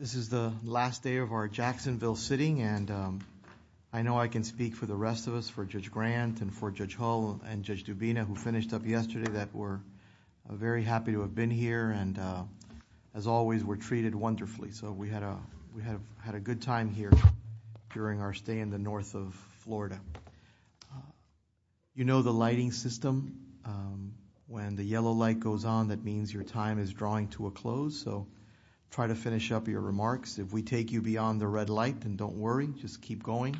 This is the last day of our Jacksonville sitting and I know I can speak for the rest of us for Judge Grant and for Judge Hull and Judge Dubina who finished up yesterday that were very happy to have been here and as always were treated wonderfully so we had a we have had a good time here during our stay in the north of Florida. You know the lighting system when the yellow light goes on that means your time is drawing to a close so try to finish up your remarks if we take you beyond the red light and don't worry just keep going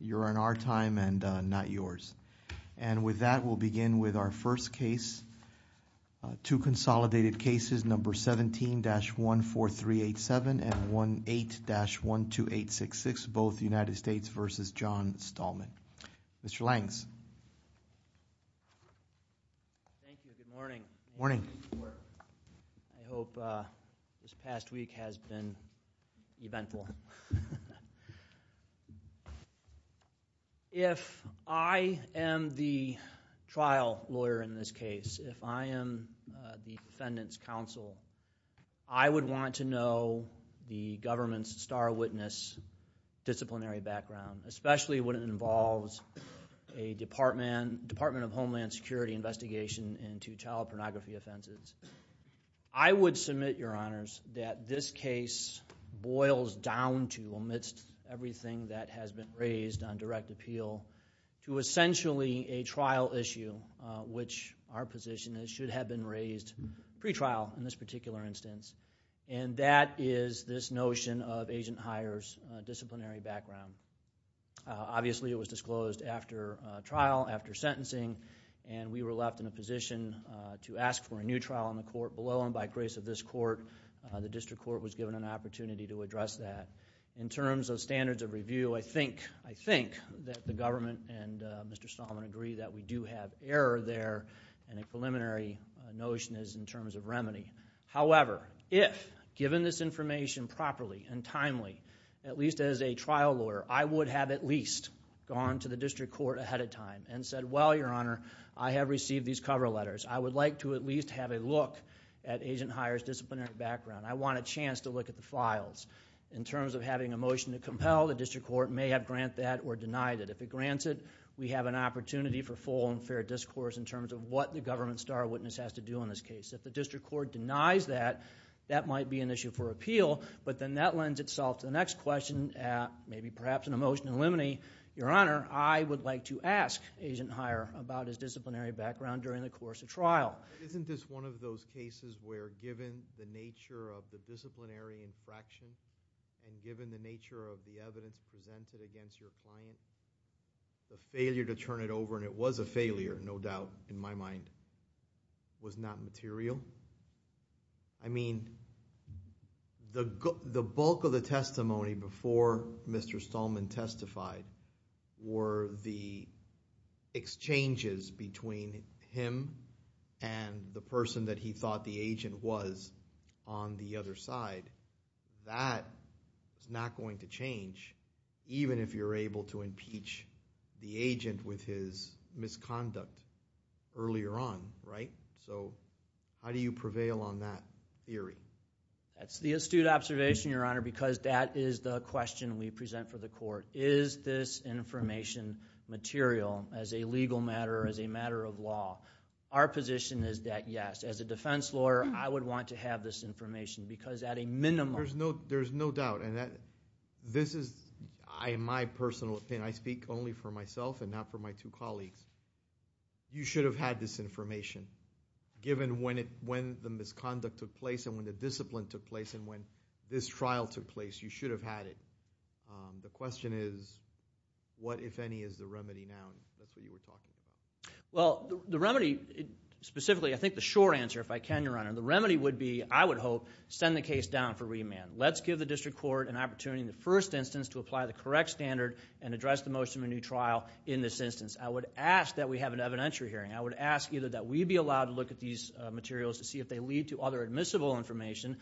you're in our time and not yours and with that we'll begin with our first case two consolidated cases number 17-14387 and 18-12866 both United States v. John Stahlman. Mr. Langes Good morning. I hope this past week has been eventful. If I am the trial lawyer in this case if I am the defendant's counsel I would want to know the government's star witness disciplinary background especially when it involves a Department of Homeland Security investigation into child pornography offenses. I would submit your honors that this case boils down to amidst everything that has been raised on direct appeal to essentially a trial issue which our position is should have been raised pretrial in this and that is this notion of agent hires disciplinary background. Obviously it was disclosed after trial after sentencing and we were left in a position to ask for a new trial in the court below and by grace of this court the district court was given an opportunity to address that. In terms of standards of review I think I think that the government and Mr. Stahlman agree that we do have error there and a preliminary notion is in terms of remedy however if given this information properly and timely at least as a trial lawyer I would have at least gone to the district court ahead of time and said well your honor I have received these cover letters I would like to at least have a look at agent hires disciplinary background. I want a chance to look at the files in terms of having a motion to compel the district court may have grant that or denied it. If it grants it we have an opportunity for full and fair discourse in terms of what the government star witness has to do in this case. If the district court denies that that might be an issue for appeal but then that lends itself to the next question maybe perhaps in a motion to eliminate your honor I would like to ask agent hire about his disciplinary background during the course of trial. Isn't this one of those cases where given the nature of the disciplinary infraction and given the nature of the evidence presented against your client the failure to turn it over and it was a mind was not material I mean the bulk of the testimony before mr. Stallman testified were the exchanges between him and the person that he thought the agent was on the other side that is not going to change even if you're able to impeach the agent with his misconduct earlier on right so how do you prevail on that theory that's the astute observation your honor because that is the question we present for the court is this information material as a legal matter as a matter of law our position is that yes as a defense lawyer I would want to have this information because at a minimum there's no there's no doubt and that this is I in my personal opinion I speak only for myself and not for my two colleagues you should have had this information given when it when the misconduct took place and when the discipline took place and when this trial took place you should have had it the question is what if any is the remedy now that's what you were talking well the remedy specifically I think the short answer if I can your honor the remedy would be I would hope send the district court an opportunity in the first instance to apply the correct standard and address the motion of a new trial in this instance I would ask that we have an evidentiary hearing I would ask either that we be allowed to look at these materials to see if they lead to other admissible information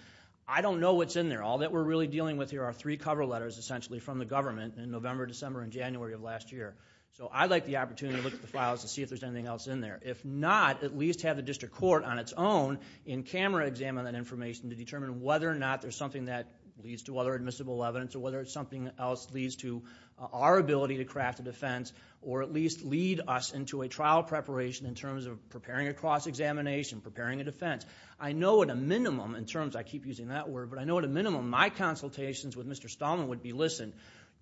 I don't know what's in there all that we're really dealing with here are three cover letters essentially from the government in November December and January of last year so I'd like the opportunity to look at the files to see if there's anything else in there if not at least have the district court on its own in camera examine that information to determine whether or not there's something that leads to other admissible evidence or whether it's something else leads to our ability to craft a defense or at least lead us into a trial preparation in terms of preparing a cross-examination preparing a defense I know at a minimum in terms I keep using that word but I know at a minimum my consultations with mr. Stallman would be listen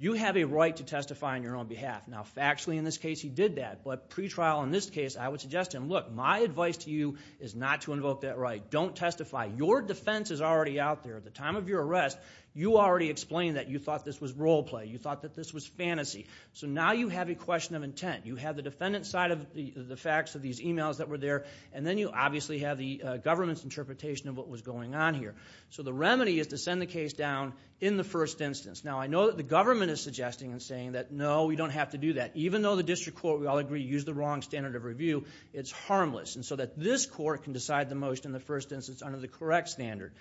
you have a right to testify on your own behalf now factually in this case he did that but pretrial in this case I would suggest him look my advice to you is not to invoke that right don't testify your defense is already out there at the time of your arrest you already explained that you thought this was role play you thought that this was fantasy so now you have a question of intent you have the defendant side of the the facts of these emails that were there and then you obviously have the government's interpretation of what was going on here so the remedy is to send the case down in the first instance now I know that the government is suggesting and saying that no we don't have to do that even though the district court we all agree use the wrong standard of review it's harmless and so that this court can decide the most in the first instance under the correct standard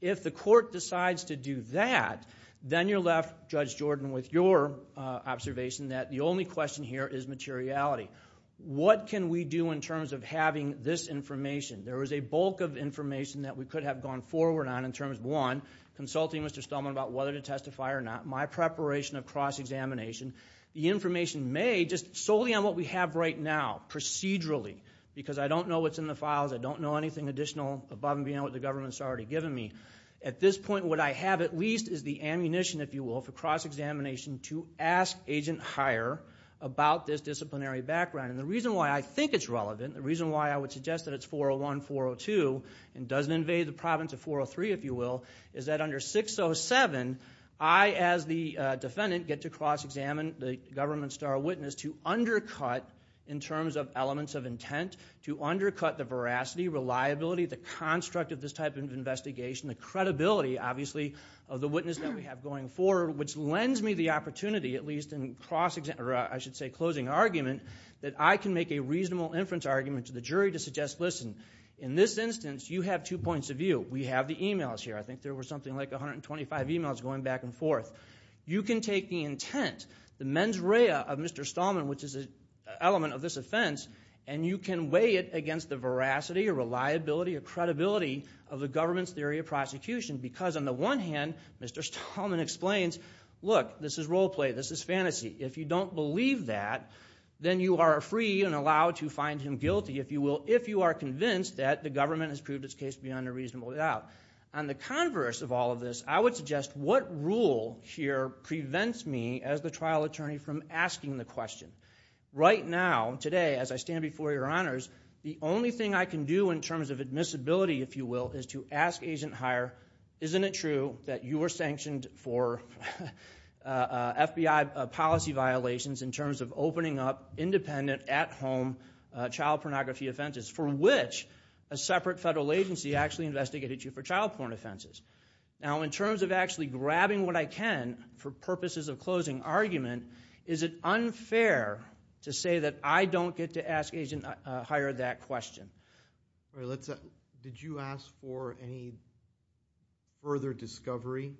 if the court decides to do that then you're left judge Jordan with your observation that the only question here is materiality what can we do in terms of having this information there was a bulk of information that we could have gone forward on in terms of one consulting mr. Stallman about whether to testify or not my preparation of cross-examination the information may just solely on what we have right now procedurally because I don't know what's in the files I don't know anything additional above and beyond what the government's already given me at this point what I have at least is the ammunition if you will for cross-examination to ask agent hire about this disciplinary background and the reason why I think it's relevant the reason why I would suggest that it's 401 402 and doesn't invade the province of 403 if you will is that under 607 I as the defendant get to cross-examine the government star witness to undercut in terms of elements of intent to undercut the veracity reliability the construct of this type of investigation the credibility obviously of the witness that we have going forward which lends me the opportunity at least in cross-examiner I should say closing argument that I can make a reasonable inference argument to the jury to suggest listen in this instance you have two points of view we have the emails here I think there was something like 125 emails going back and forth you can take the intent the mens rea of mr. Stallman which is a element of this offense and you can weigh it against the veracity or reliability or credibility of the government's theory of prosecution because on the one hand mr. Stallman explains look this is role play this is fantasy if you don't believe that then you are free and allowed to find him guilty if you will if you are convinced that the government has proved its case beyond a reasonable doubt on the converse of all of this I would suggest what rule here prevents me as the trial attorney from asking the question right now today as I stand before your honors the only thing I can do in terms of admissibility if you will is to ask agent higher isn't it true that you were sanctioned for FBI policy violations in terms of opening up child pornography offenses for which a separate federal agency actually investigated you for child porn offenses now in terms of actually grabbing what I can for purposes of closing argument is it unfair to say that I don't get to ask agent hired that question let's did you ask for any further discovery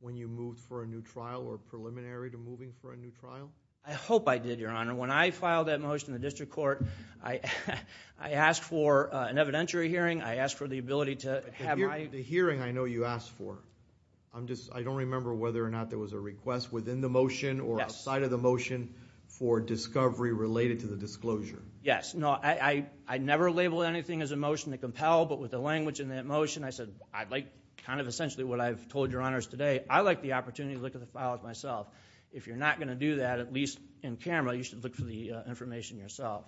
when you moved for a new trial or preliminary to moving for a new trial I hope I did your motion the district court I I asked for an evidentiary hearing I asked for the ability to have my hearing I know you asked for I'm just I don't remember whether or not there was a request within the motion or outside of the motion for discovery related to the disclosure yes no I I never labeled anything as a motion to compel but with the language in that motion I said I'd like kind of essentially what I've told your honors today I like the opportunity to look at the files myself if you're not going to do that at least in camera you should look for the information yourself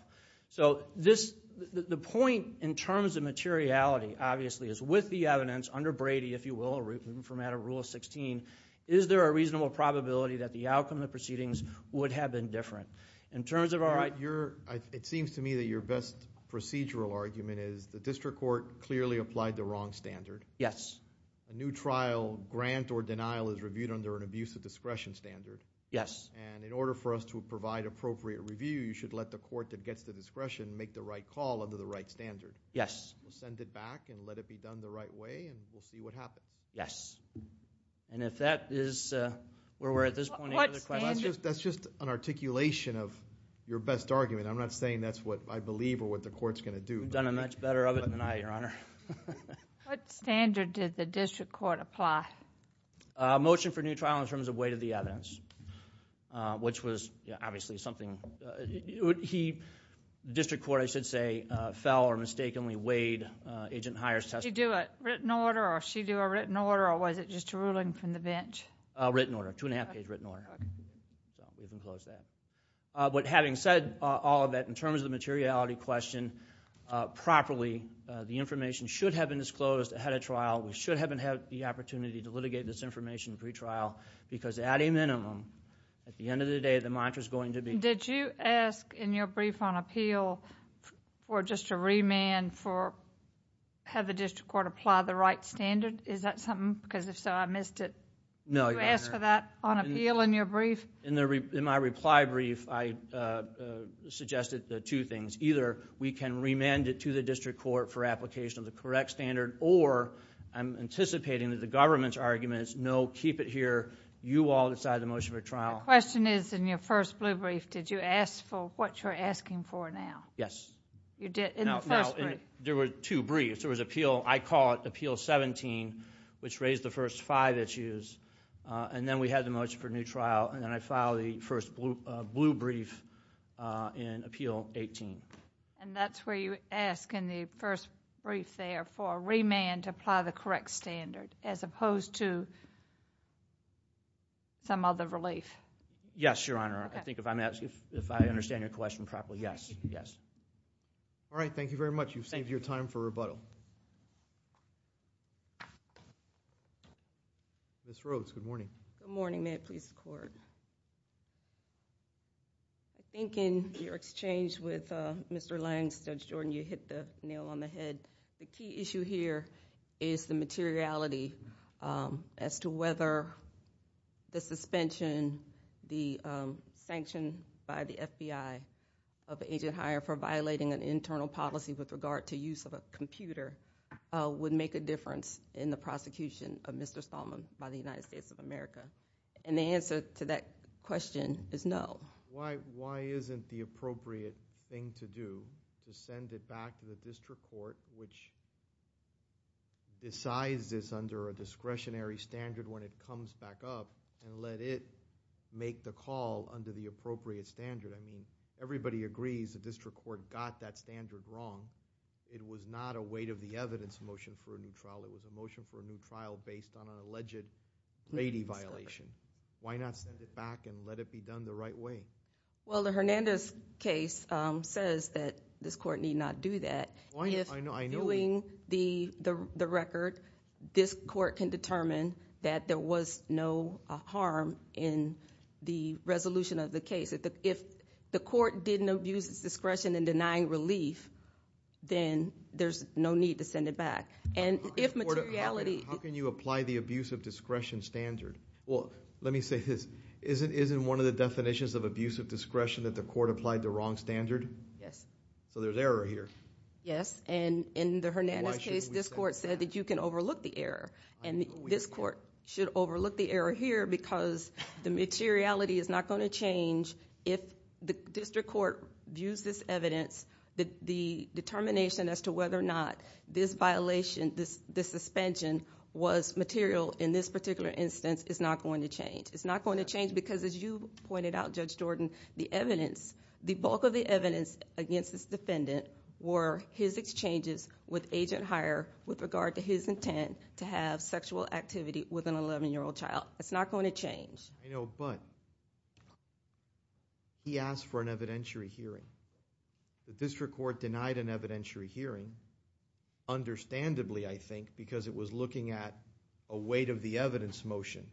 so this the point in terms of materiality obviously is with the evidence under Brady if you will root from out of rule of 16 is there a reasonable probability that the outcome of proceedings would have been different in terms of all right you're it seems to me that your best procedural argument is the district court clearly applied the wrong standard yes a new trial grant or denial is reviewed under an abuse of appropriate review you should let the court that gets the discretion make the right call under the right standard yes we'll send it back and let it be done the right way and we'll see what happens yes and if that is where we're at this point that's just an articulation of your best argument I'm not saying that's what I believe or what the court's gonna do done a much better of it than I your honor what standard did the district court apply a motion for new trial in which was obviously something he district court I should say fell or mistakenly weighed agent hires test you do it written order or she do a written order or was it just a ruling from the bench a written order two and a half page written order but having said all of that in terms of the materiality question properly the information should have been disclosed ahead of trial we should haven't had the opportunity to litigate this information pretrial because at a minimum at the end of the day the mantra is going to be did you ask in your brief on appeal for just a remand for have the district court apply the right standard is that something because if so I missed it no I asked for that on appeal in your brief in there in my reply brief I suggested the two things either we can remand it to the district court for application of the correct standard or I'm anticipating that the government's no keep it here you all decide the motion for trial question is in your first blue brief did you ask for what you're asking for now yes you did in there were two briefs there was appeal I call it appeal 17 which raised the first five issues and then we had the most for new trial and then I follow the first blue brief in appeal 18 and that's where you ask in the first brief therefore remand to apply the correct standard as opposed to some other relief yes your honor I think if I'm asking if I understand your question properly yes yes all right thank you very much you've saved your time for rebuttal this roads good morning morning may it please the court I think in your exchange with mr. Langston Jordan you hit the nail on the head the key issue here is the materiality as to whether the suspension the sanction by the FBI of agent hire for violating an internal policy with regard to use of a computer would make a difference in the prosecution of mr. Stallman by the United States of America and the answer to that question is no why why isn't the appropriate thing to do to send it back to the district court which decides this under a discretionary standard when it comes back up and let it make the call under the appropriate standard I mean everybody agrees the district court got that standard wrong it was not a weight of the evidence motion for a new trial it was a motion for a new trial based on an alleged lady violation why not send it back and let it be done the right way well the Hernandez case says that this court need not do that yes I know I knowing the the record this court can determine that there was no harm in the resolution of the case if the court didn't abuse its discretion in denying relief then there's no need to send it and if materiality how can you apply the abuse of discretion standard well let me say this isn't isn't one of the definitions of abuse of discretion that the court applied the wrong standard yes so there's error here yes and in the Hernandez case this court said that you can overlook the error and this court should overlook the error here because the materiality is not going to change if the district court views this evidence that the determination as to whether or not this violation this the suspension was material in this particular instance is not going to change it's not going to change because as you pointed out judge Jordan the evidence the bulk of the evidence against this defendant were his exchanges with agent hire with regard to his intent to have sexual activity with an 11 year old child it's not going to change you know but he asked for an evidentiary hearing the district court denied an evidentiary hearing understandably I think because it was looking at a weight of the evidence motion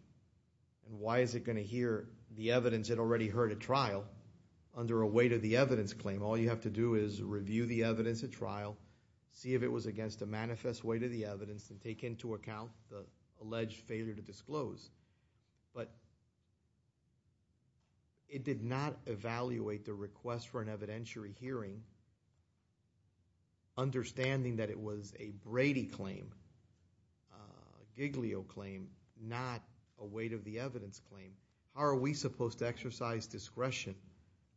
and why is it going to hear the evidence it already heard a trial under a weight of the evidence claim all you have to do is review the evidence at trial see if it was against a manifest weight of the evidence and take into account the alleged failure to disclose but it did not evaluate the request for an evidentiary hearing understanding that it was a Brady claim Giglio claim not a weight of the evidence claim how are we supposed to exercise discretion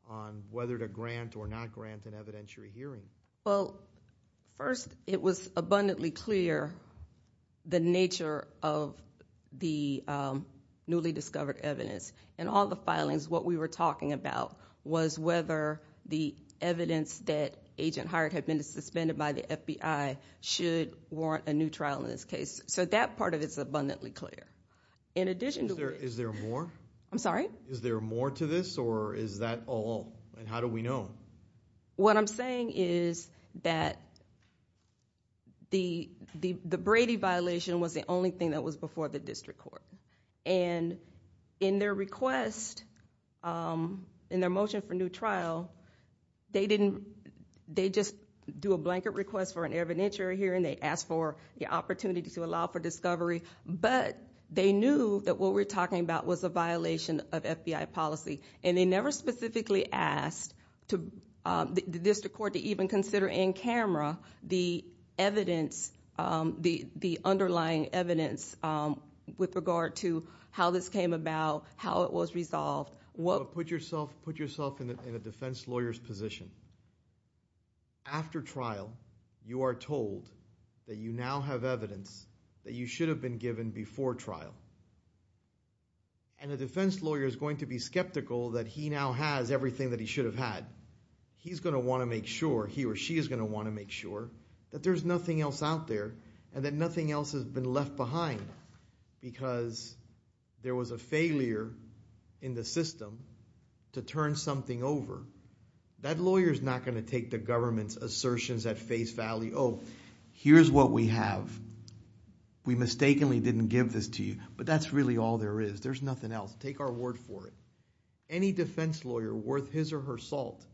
on whether to grant or not grant an the nature of the newly discovered evidence and all the filings what we were talking about was whether the evidence that agent hired had been suspended by the FBI should warrant a new trial in this case so that part of it's abundantly clear in addition there is there more I'm sorry is there more to this or is that all and how do we know what I'm saying is that the the Brady violation was the only thing that was before the district court and in their request in their motion for new trial they didn't they just do a blanket request for an evidentiary hearing they asked for the opportunity to allow for discovery but they knew that what we're talking about was a violation of FBI policy and they never specifically asked to the district court to even consider in camera the evidence the the underlying evidence with regard to how this came about how it was resolved what put yourself put yourself in a defense lawyers position after trial you are told that you now have evidence that you going to be skeptical that he now has everything that he should have had he's going to want to make sure he or she is going to want to make sure that there's nothing else out there and that nothing else has been left behind because there was a failure in the system to turn something over that lawyer is not going to take the government's assertions at face value oh here's what we have we mistakenly didn't give this to you but that's really all there is there's for it any defense lawyer worth his or her salt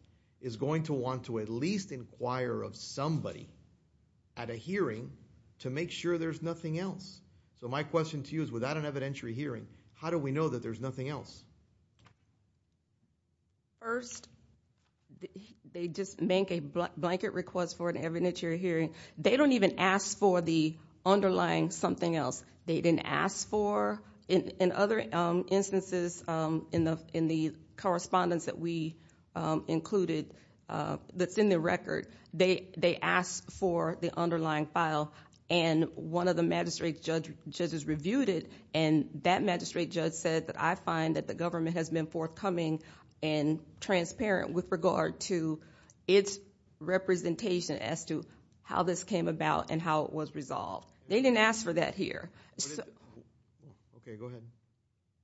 is going to want to at least inquire of somebody at a hearing to make sure there's nothing else so my question to you is without an evidentiary hearing how do we know that there's nothing else first they just make a blanket request for an evidentiary hearing they don't even ask for the underlying something else they didn't ask for in other instances in the in the correspondence that we included that's in the record they they asked for the underlying file and one of the magistrate judge judges reviewed it and that magistrate judge said that I find that the government has been forthcoming and transparent with regard to its representation as to how this came about and how it was resolved they didn't ask for that here okay go ahead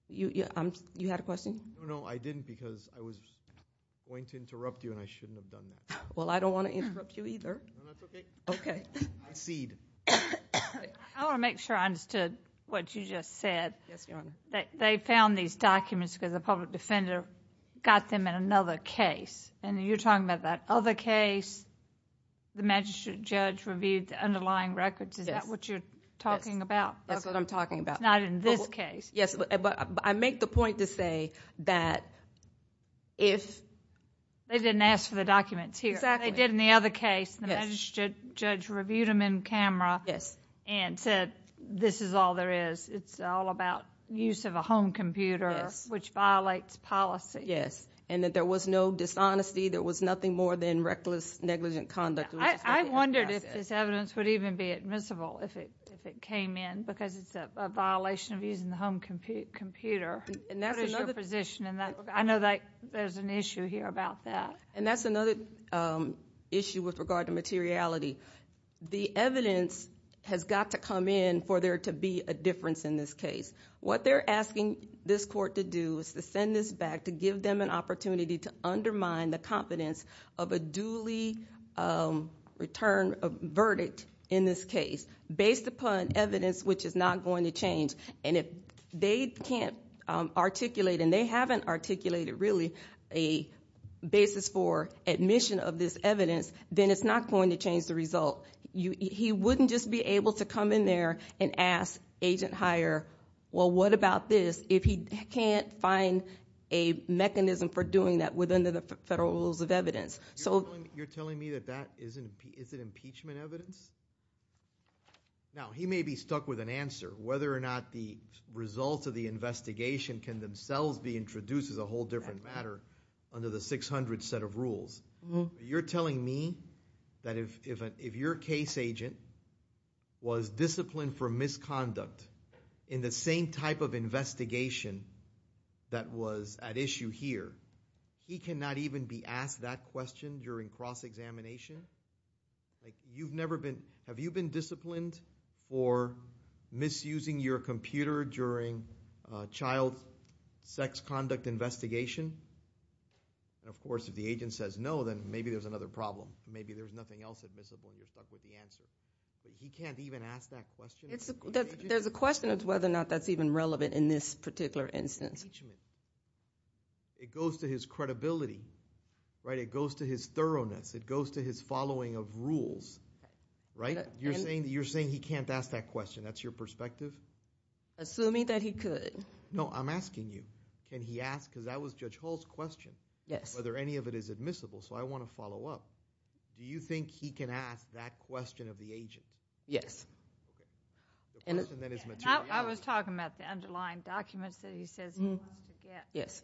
you yeah I'm you had a question no I didn't because I was going to interrupt you and I shouldn't have done that well I don't want to interrupt you either okay seed I want to make sure I understood what you just said yes they found these documents because the public defender got them in another case and you're talking about that other case the magistrate judge reviewed the underlying records is that what you're talking about that's what I'm talking about not in this case yes but I make the point to say that if they didn't ask for the documents here exactly did in the other case the magistrate judge reviewed them in camera yes and said this is all there is it's all about use of a home computer which violates policy yes and that there was no dishonesty there was nothing more than reckless negligent conduct I wondered if this evidence would even be admissible if it if it came in because it's a violation of using the home compute computer and that's another position and that I know that there's an issue here about that and that's another issue with regard to materiality the evidence has got to come in for there to be a difference in this case what they're asking this court to do is to send this back to give them an incompetence of a duly return of verdict in this case based upon evidence which is not going to change and if they can't articulate and they haven't articulated really a basis for admission of this evidence then it's not going to change the result you he wouldn't just be able to come in there and ask agent hire well what about this if he can't find a mechanism for doing that within the federal rules of evidence so you're telling me that that isn't is it impeachment evidence now he may be stuck with an answer whether or not the results of the investigation can themselves be introduced as a whole different matter under the 600 set of rules you're telling me that if if your case agent was disciplined for misconduct in the same type of he cannot even be asked that question during cross-examination you've never been have you been disciplined for misusing your computer during child sex conduct investigation and of course if the agent says no then maybe there's another problem maybe there's nothing else admissible you're stuck with the answer but he can't even ask that question there's a question of whether or not that's even relevant in this particular instance it goes to his credibility right it goes to his thoroughness it goes to his following of rules right you're saying that you're saying he can't ask that question that's your perspective assuming that he could no I'm asking you can he ask because that was judge Hall's question yes whether any of it is admissible so I want to follow up do you think he can ask that question of the agent yes and it's not I was talking about the underlying documents that he says yes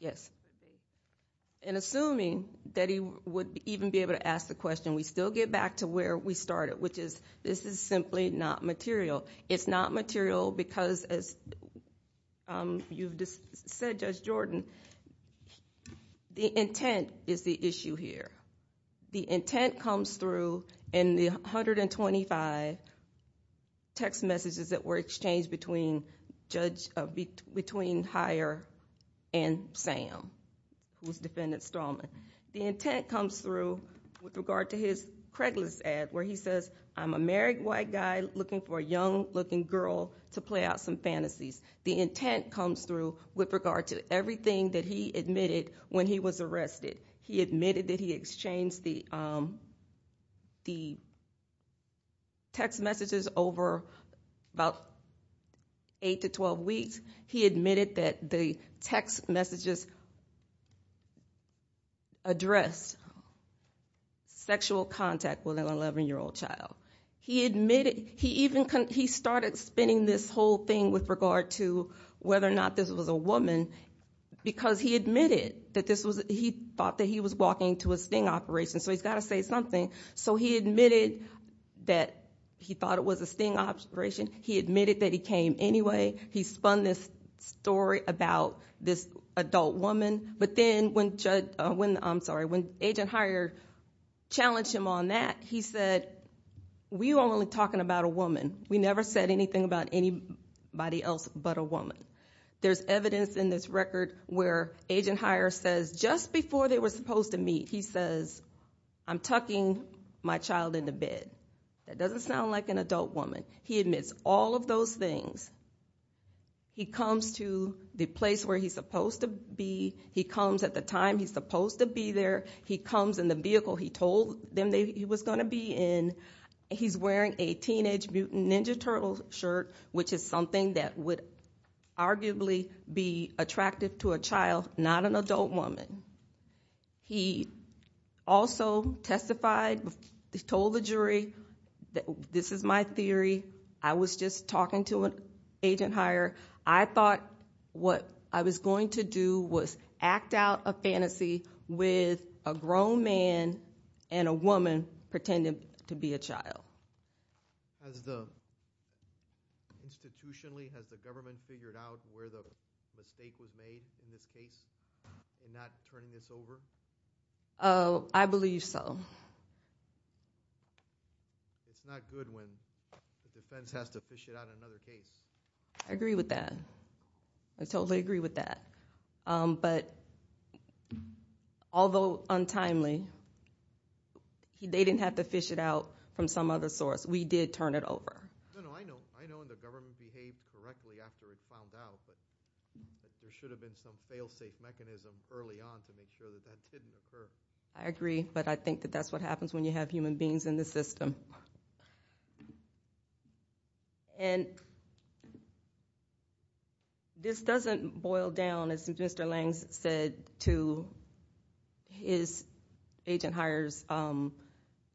yes and assuming that he would even be able to ask the question we still get back to where we started which is this is simply not material it's not material because as you've just said judge Jordan the intent is the issue here the intent comes through in the hundred and twenty five text messages that were exchanged between judge between higher and Sam who's defendant strawman the intent comes through with regard to his Craig list ad where he says I'm a married white guy looking for a young-looking girl to play out some fantasies the intent comes through with regard to everything that he admitted when he was 8 to 12 weeks he admitted that the text messages address sexual contact with an 11 year old child he admitted he even can he started spinning this whole thing with regard to whether or not this was a woman because he admitted that this was he thought that he was walking to a sting operation so he's got to say something so he admitted that he thought it was a sting operation he admitted that he came anyway he spun this story about this adult woman but then when judge when I'm sorry when agent higher challenge him on that he said we only talking about a woman we never said anything about anybody else but a woman there's evidence in this record where agent higher says just before they were supposed to meet he says I'm talking my child in the bed that doesn't sound like an adult woman he admits all of those things he comes to the place where he's supposed to be he comes at the time he's supposed to be there he comes in the vehicle he told them that he was going to be in he's wearing a teenage mutant ninja turtle shirt which is something that would arguably be attractive to a I was just talking to an agent higher I thought what I was going to do was act out a fantasy with a grown man and a woman pretending to be a child I believe so I agree with that I totally agree with that but although untimely he didn't have to fish it out from some other source we did turn it over I agree but I think that's what happens when you have human beings in the system and this doesn't boil down as Mr. Langs said to his agent hires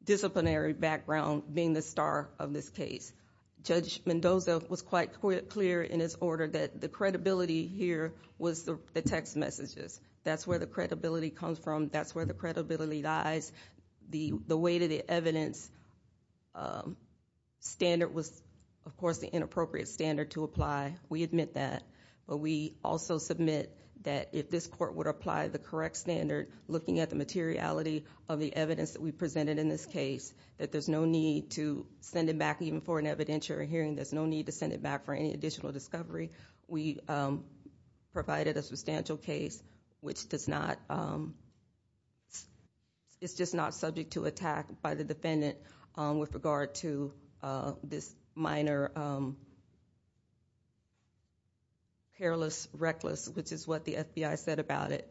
disciplinary background being the star of this case judge Mendoza was quite clear in his order that the credibility here was the text messages that's where the credibility dies the the way to the evidence standard was of course the inappropriate standard to apply we admit that but we also submit that if this court would apply the correct standard looking at the materiality of the evidence that we presented in this case that there's no need to send it back even for an evidentiary hearing there's no need to send it back for any case which does not it's just not subject to attack by the defendant with regard to this minor careless reckless which is what the FBI said about it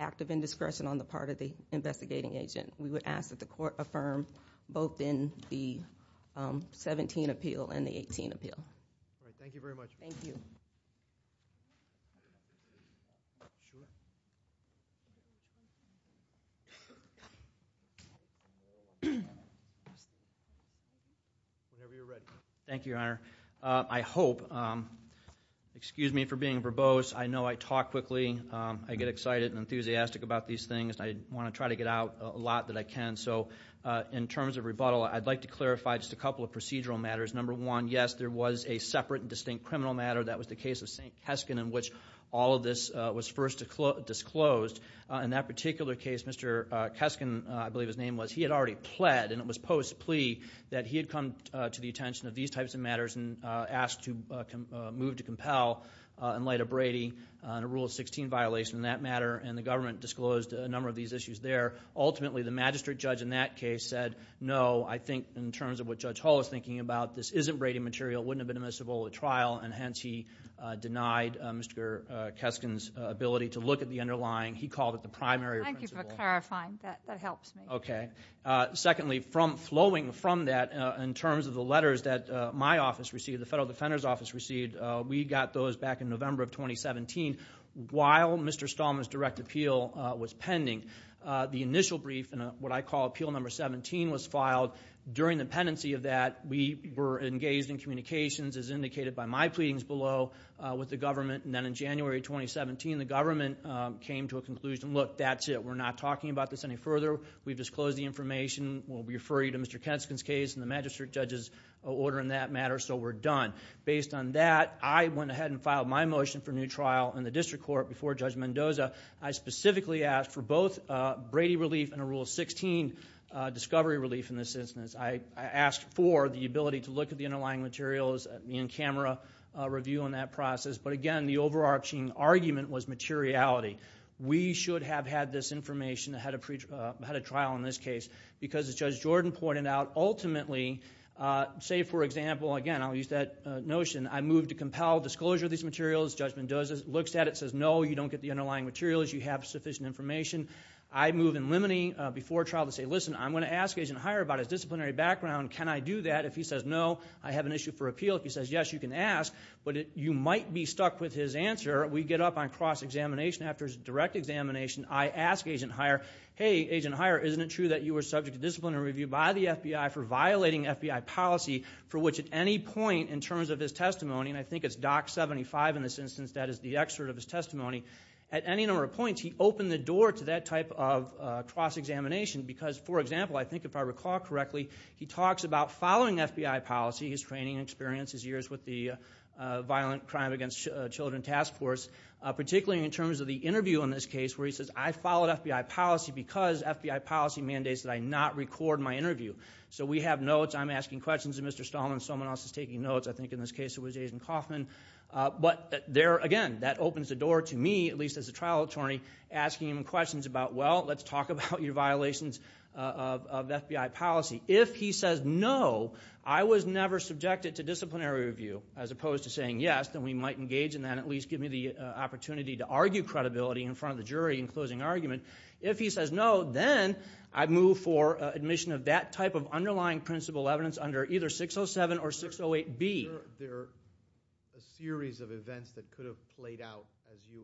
active indiscretion on the part of the investigating agent we would ask that court affirm both in the 17 appeal and the 18 appeal thank you very much thank you thank you honor I hope excuse me for being verbose I know I talk quickly I get excited and enthusiastic about these things I want to try to get out a lot that I can so in terms of rebuttal I'd like to clarify just a couple of procedural matters number one yes there was a separate and distinct criminal matter that was the case of st. Keskin in which all of this was first to disclose in that particular case mr. Keskin I believe his name was he had already pled and it was post plea that he had come to the attention of these types of matters and asked to move to compel in light of Brady and a rule of 16 violation in that matter and the government disclosed a number of these issues there ultimately the magistrate judge in that case said no I think in terms of what judge Hall is thinking about this isn't Brady material wouldn't have been admissible at trial and hence he denied mr. Keskin's ability to look at the underlying he called it the primary okay secondly from flowing from that in terms of the letters that my office received the Federal Defender's Office received we got those back in November of 2017 while mr. Stallman's direct appeal was pending the initial brief and what I call appeal number 17 was filed during the pendency of that we were engaged in communications as indicated by my pleadings below with the government and then in January 2017 the government came to a conclusion look that's it we're not talking about this any further we've disclosed the information will refer you to mr. Keskin's case and the magistrate judges order in that matter so we're done based on that I went ahead and filed my motion for new trial in the I specifically asked for both Brady relief and a rule of 16 discovery relief in this instance I asked for the ability to look at the underlying materials in camera review on that process but again the overarching argument was materiality we should have had this information ahead of preacher had a trial in this case because the judge Jordan pointed out ultimately say for example again I'll use that notion I moved to compel disclosure of these materials judgment does it looks at it says no you don't get the underlying materials you have sufficient information I move in limiting before trial to say listen I'm going to ask agent higher about his disciplinary background can I do that if he says no I have an issue for appeal if he says yes you can ask but it you might be stuck with his answer we get up on cross-examination after his direct examination I ask agent higher hey agent higher isn't it true that you were subject to disciplinary review by the FBI for violating FBI policy for which at any point in terms of his testimony and I think it's doc 75 in this instance that is the excerpt of his testimony at any number of points he opened the door to that type of cross-examination because for example I think if I recall correctly he talks about following FBI policy his training experience his years with the violent crime against children task force particularly in terms of the interview in this case where he says I followed FBI policy because FBI policy mandates that I not record my interview so we have notes I'm asking questions of mr. Stallman someone else is taking notes I think in this case it was a agent Kaufman but there again that opens the door to me at least as a trial attorney asking him questions about well let's talk about your violations of FBI policy if he says no I was never subjected to disciplinary review as opposed to saying yes then we might engage in that at least give me the opportunity to argue credibility in front of the jury in closing argument if he says no then I move for admission of that type of underlying principal evidence under either 607 or 608 be there a series of events that could have played out as you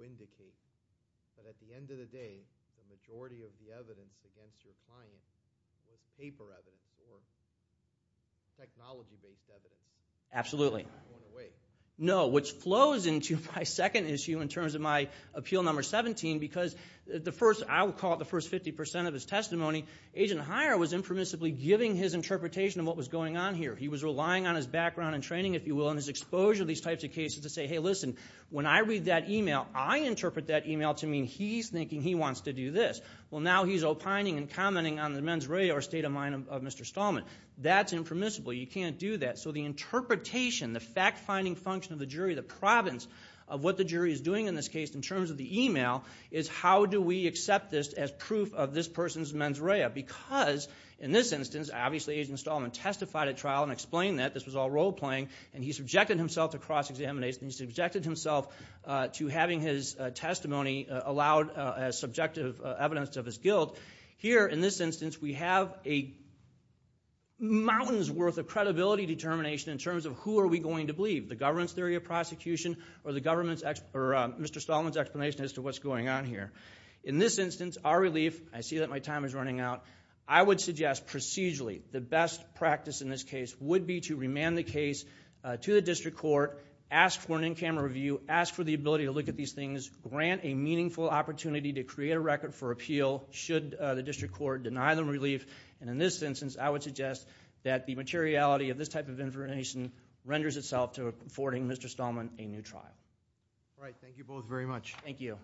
indicate absolutely no which flows into my second issue in terms of my appeal number 17 because the first I will call it the first 50% of his testimony agent hire was impermissibly giving his interpretation of what was going on here he was relying on his background and training if you will in his exposure these types of cases to say hey listen when I read that email I interpret that email to mean he's thinking he wants to do this well now he's opining and commenting on the mens rea or state of mind of mr. Stallman that's impermissible you can't do that so the interpretation the fact finding function of the jury the province of what the jury is doing in this case in terms of the email is how do we accept this as proof of this trial and explain that this was all role-playing and he subjected himself to cross-examination subjected himself to having his testimony allowed as subjective evidence of his guilt here in this instance we have a mountains worth of credibility determination in terms of who are we going to believe the government's theory of prosecution or the government's expert mr. Stallman's explanation as to what's going on here in this instance our relief I see that my time is running out I would suggest procedurally the best practice in this case would be to remand the case to the district court ask for an in-camera review ask for the ability to look at these things grant a meaningful opportunity to create a record for appeal should the district court deny them relief and in this instance I would suggest that the materiality of this type of information renders itself to affording mr. Stallman a new trial all you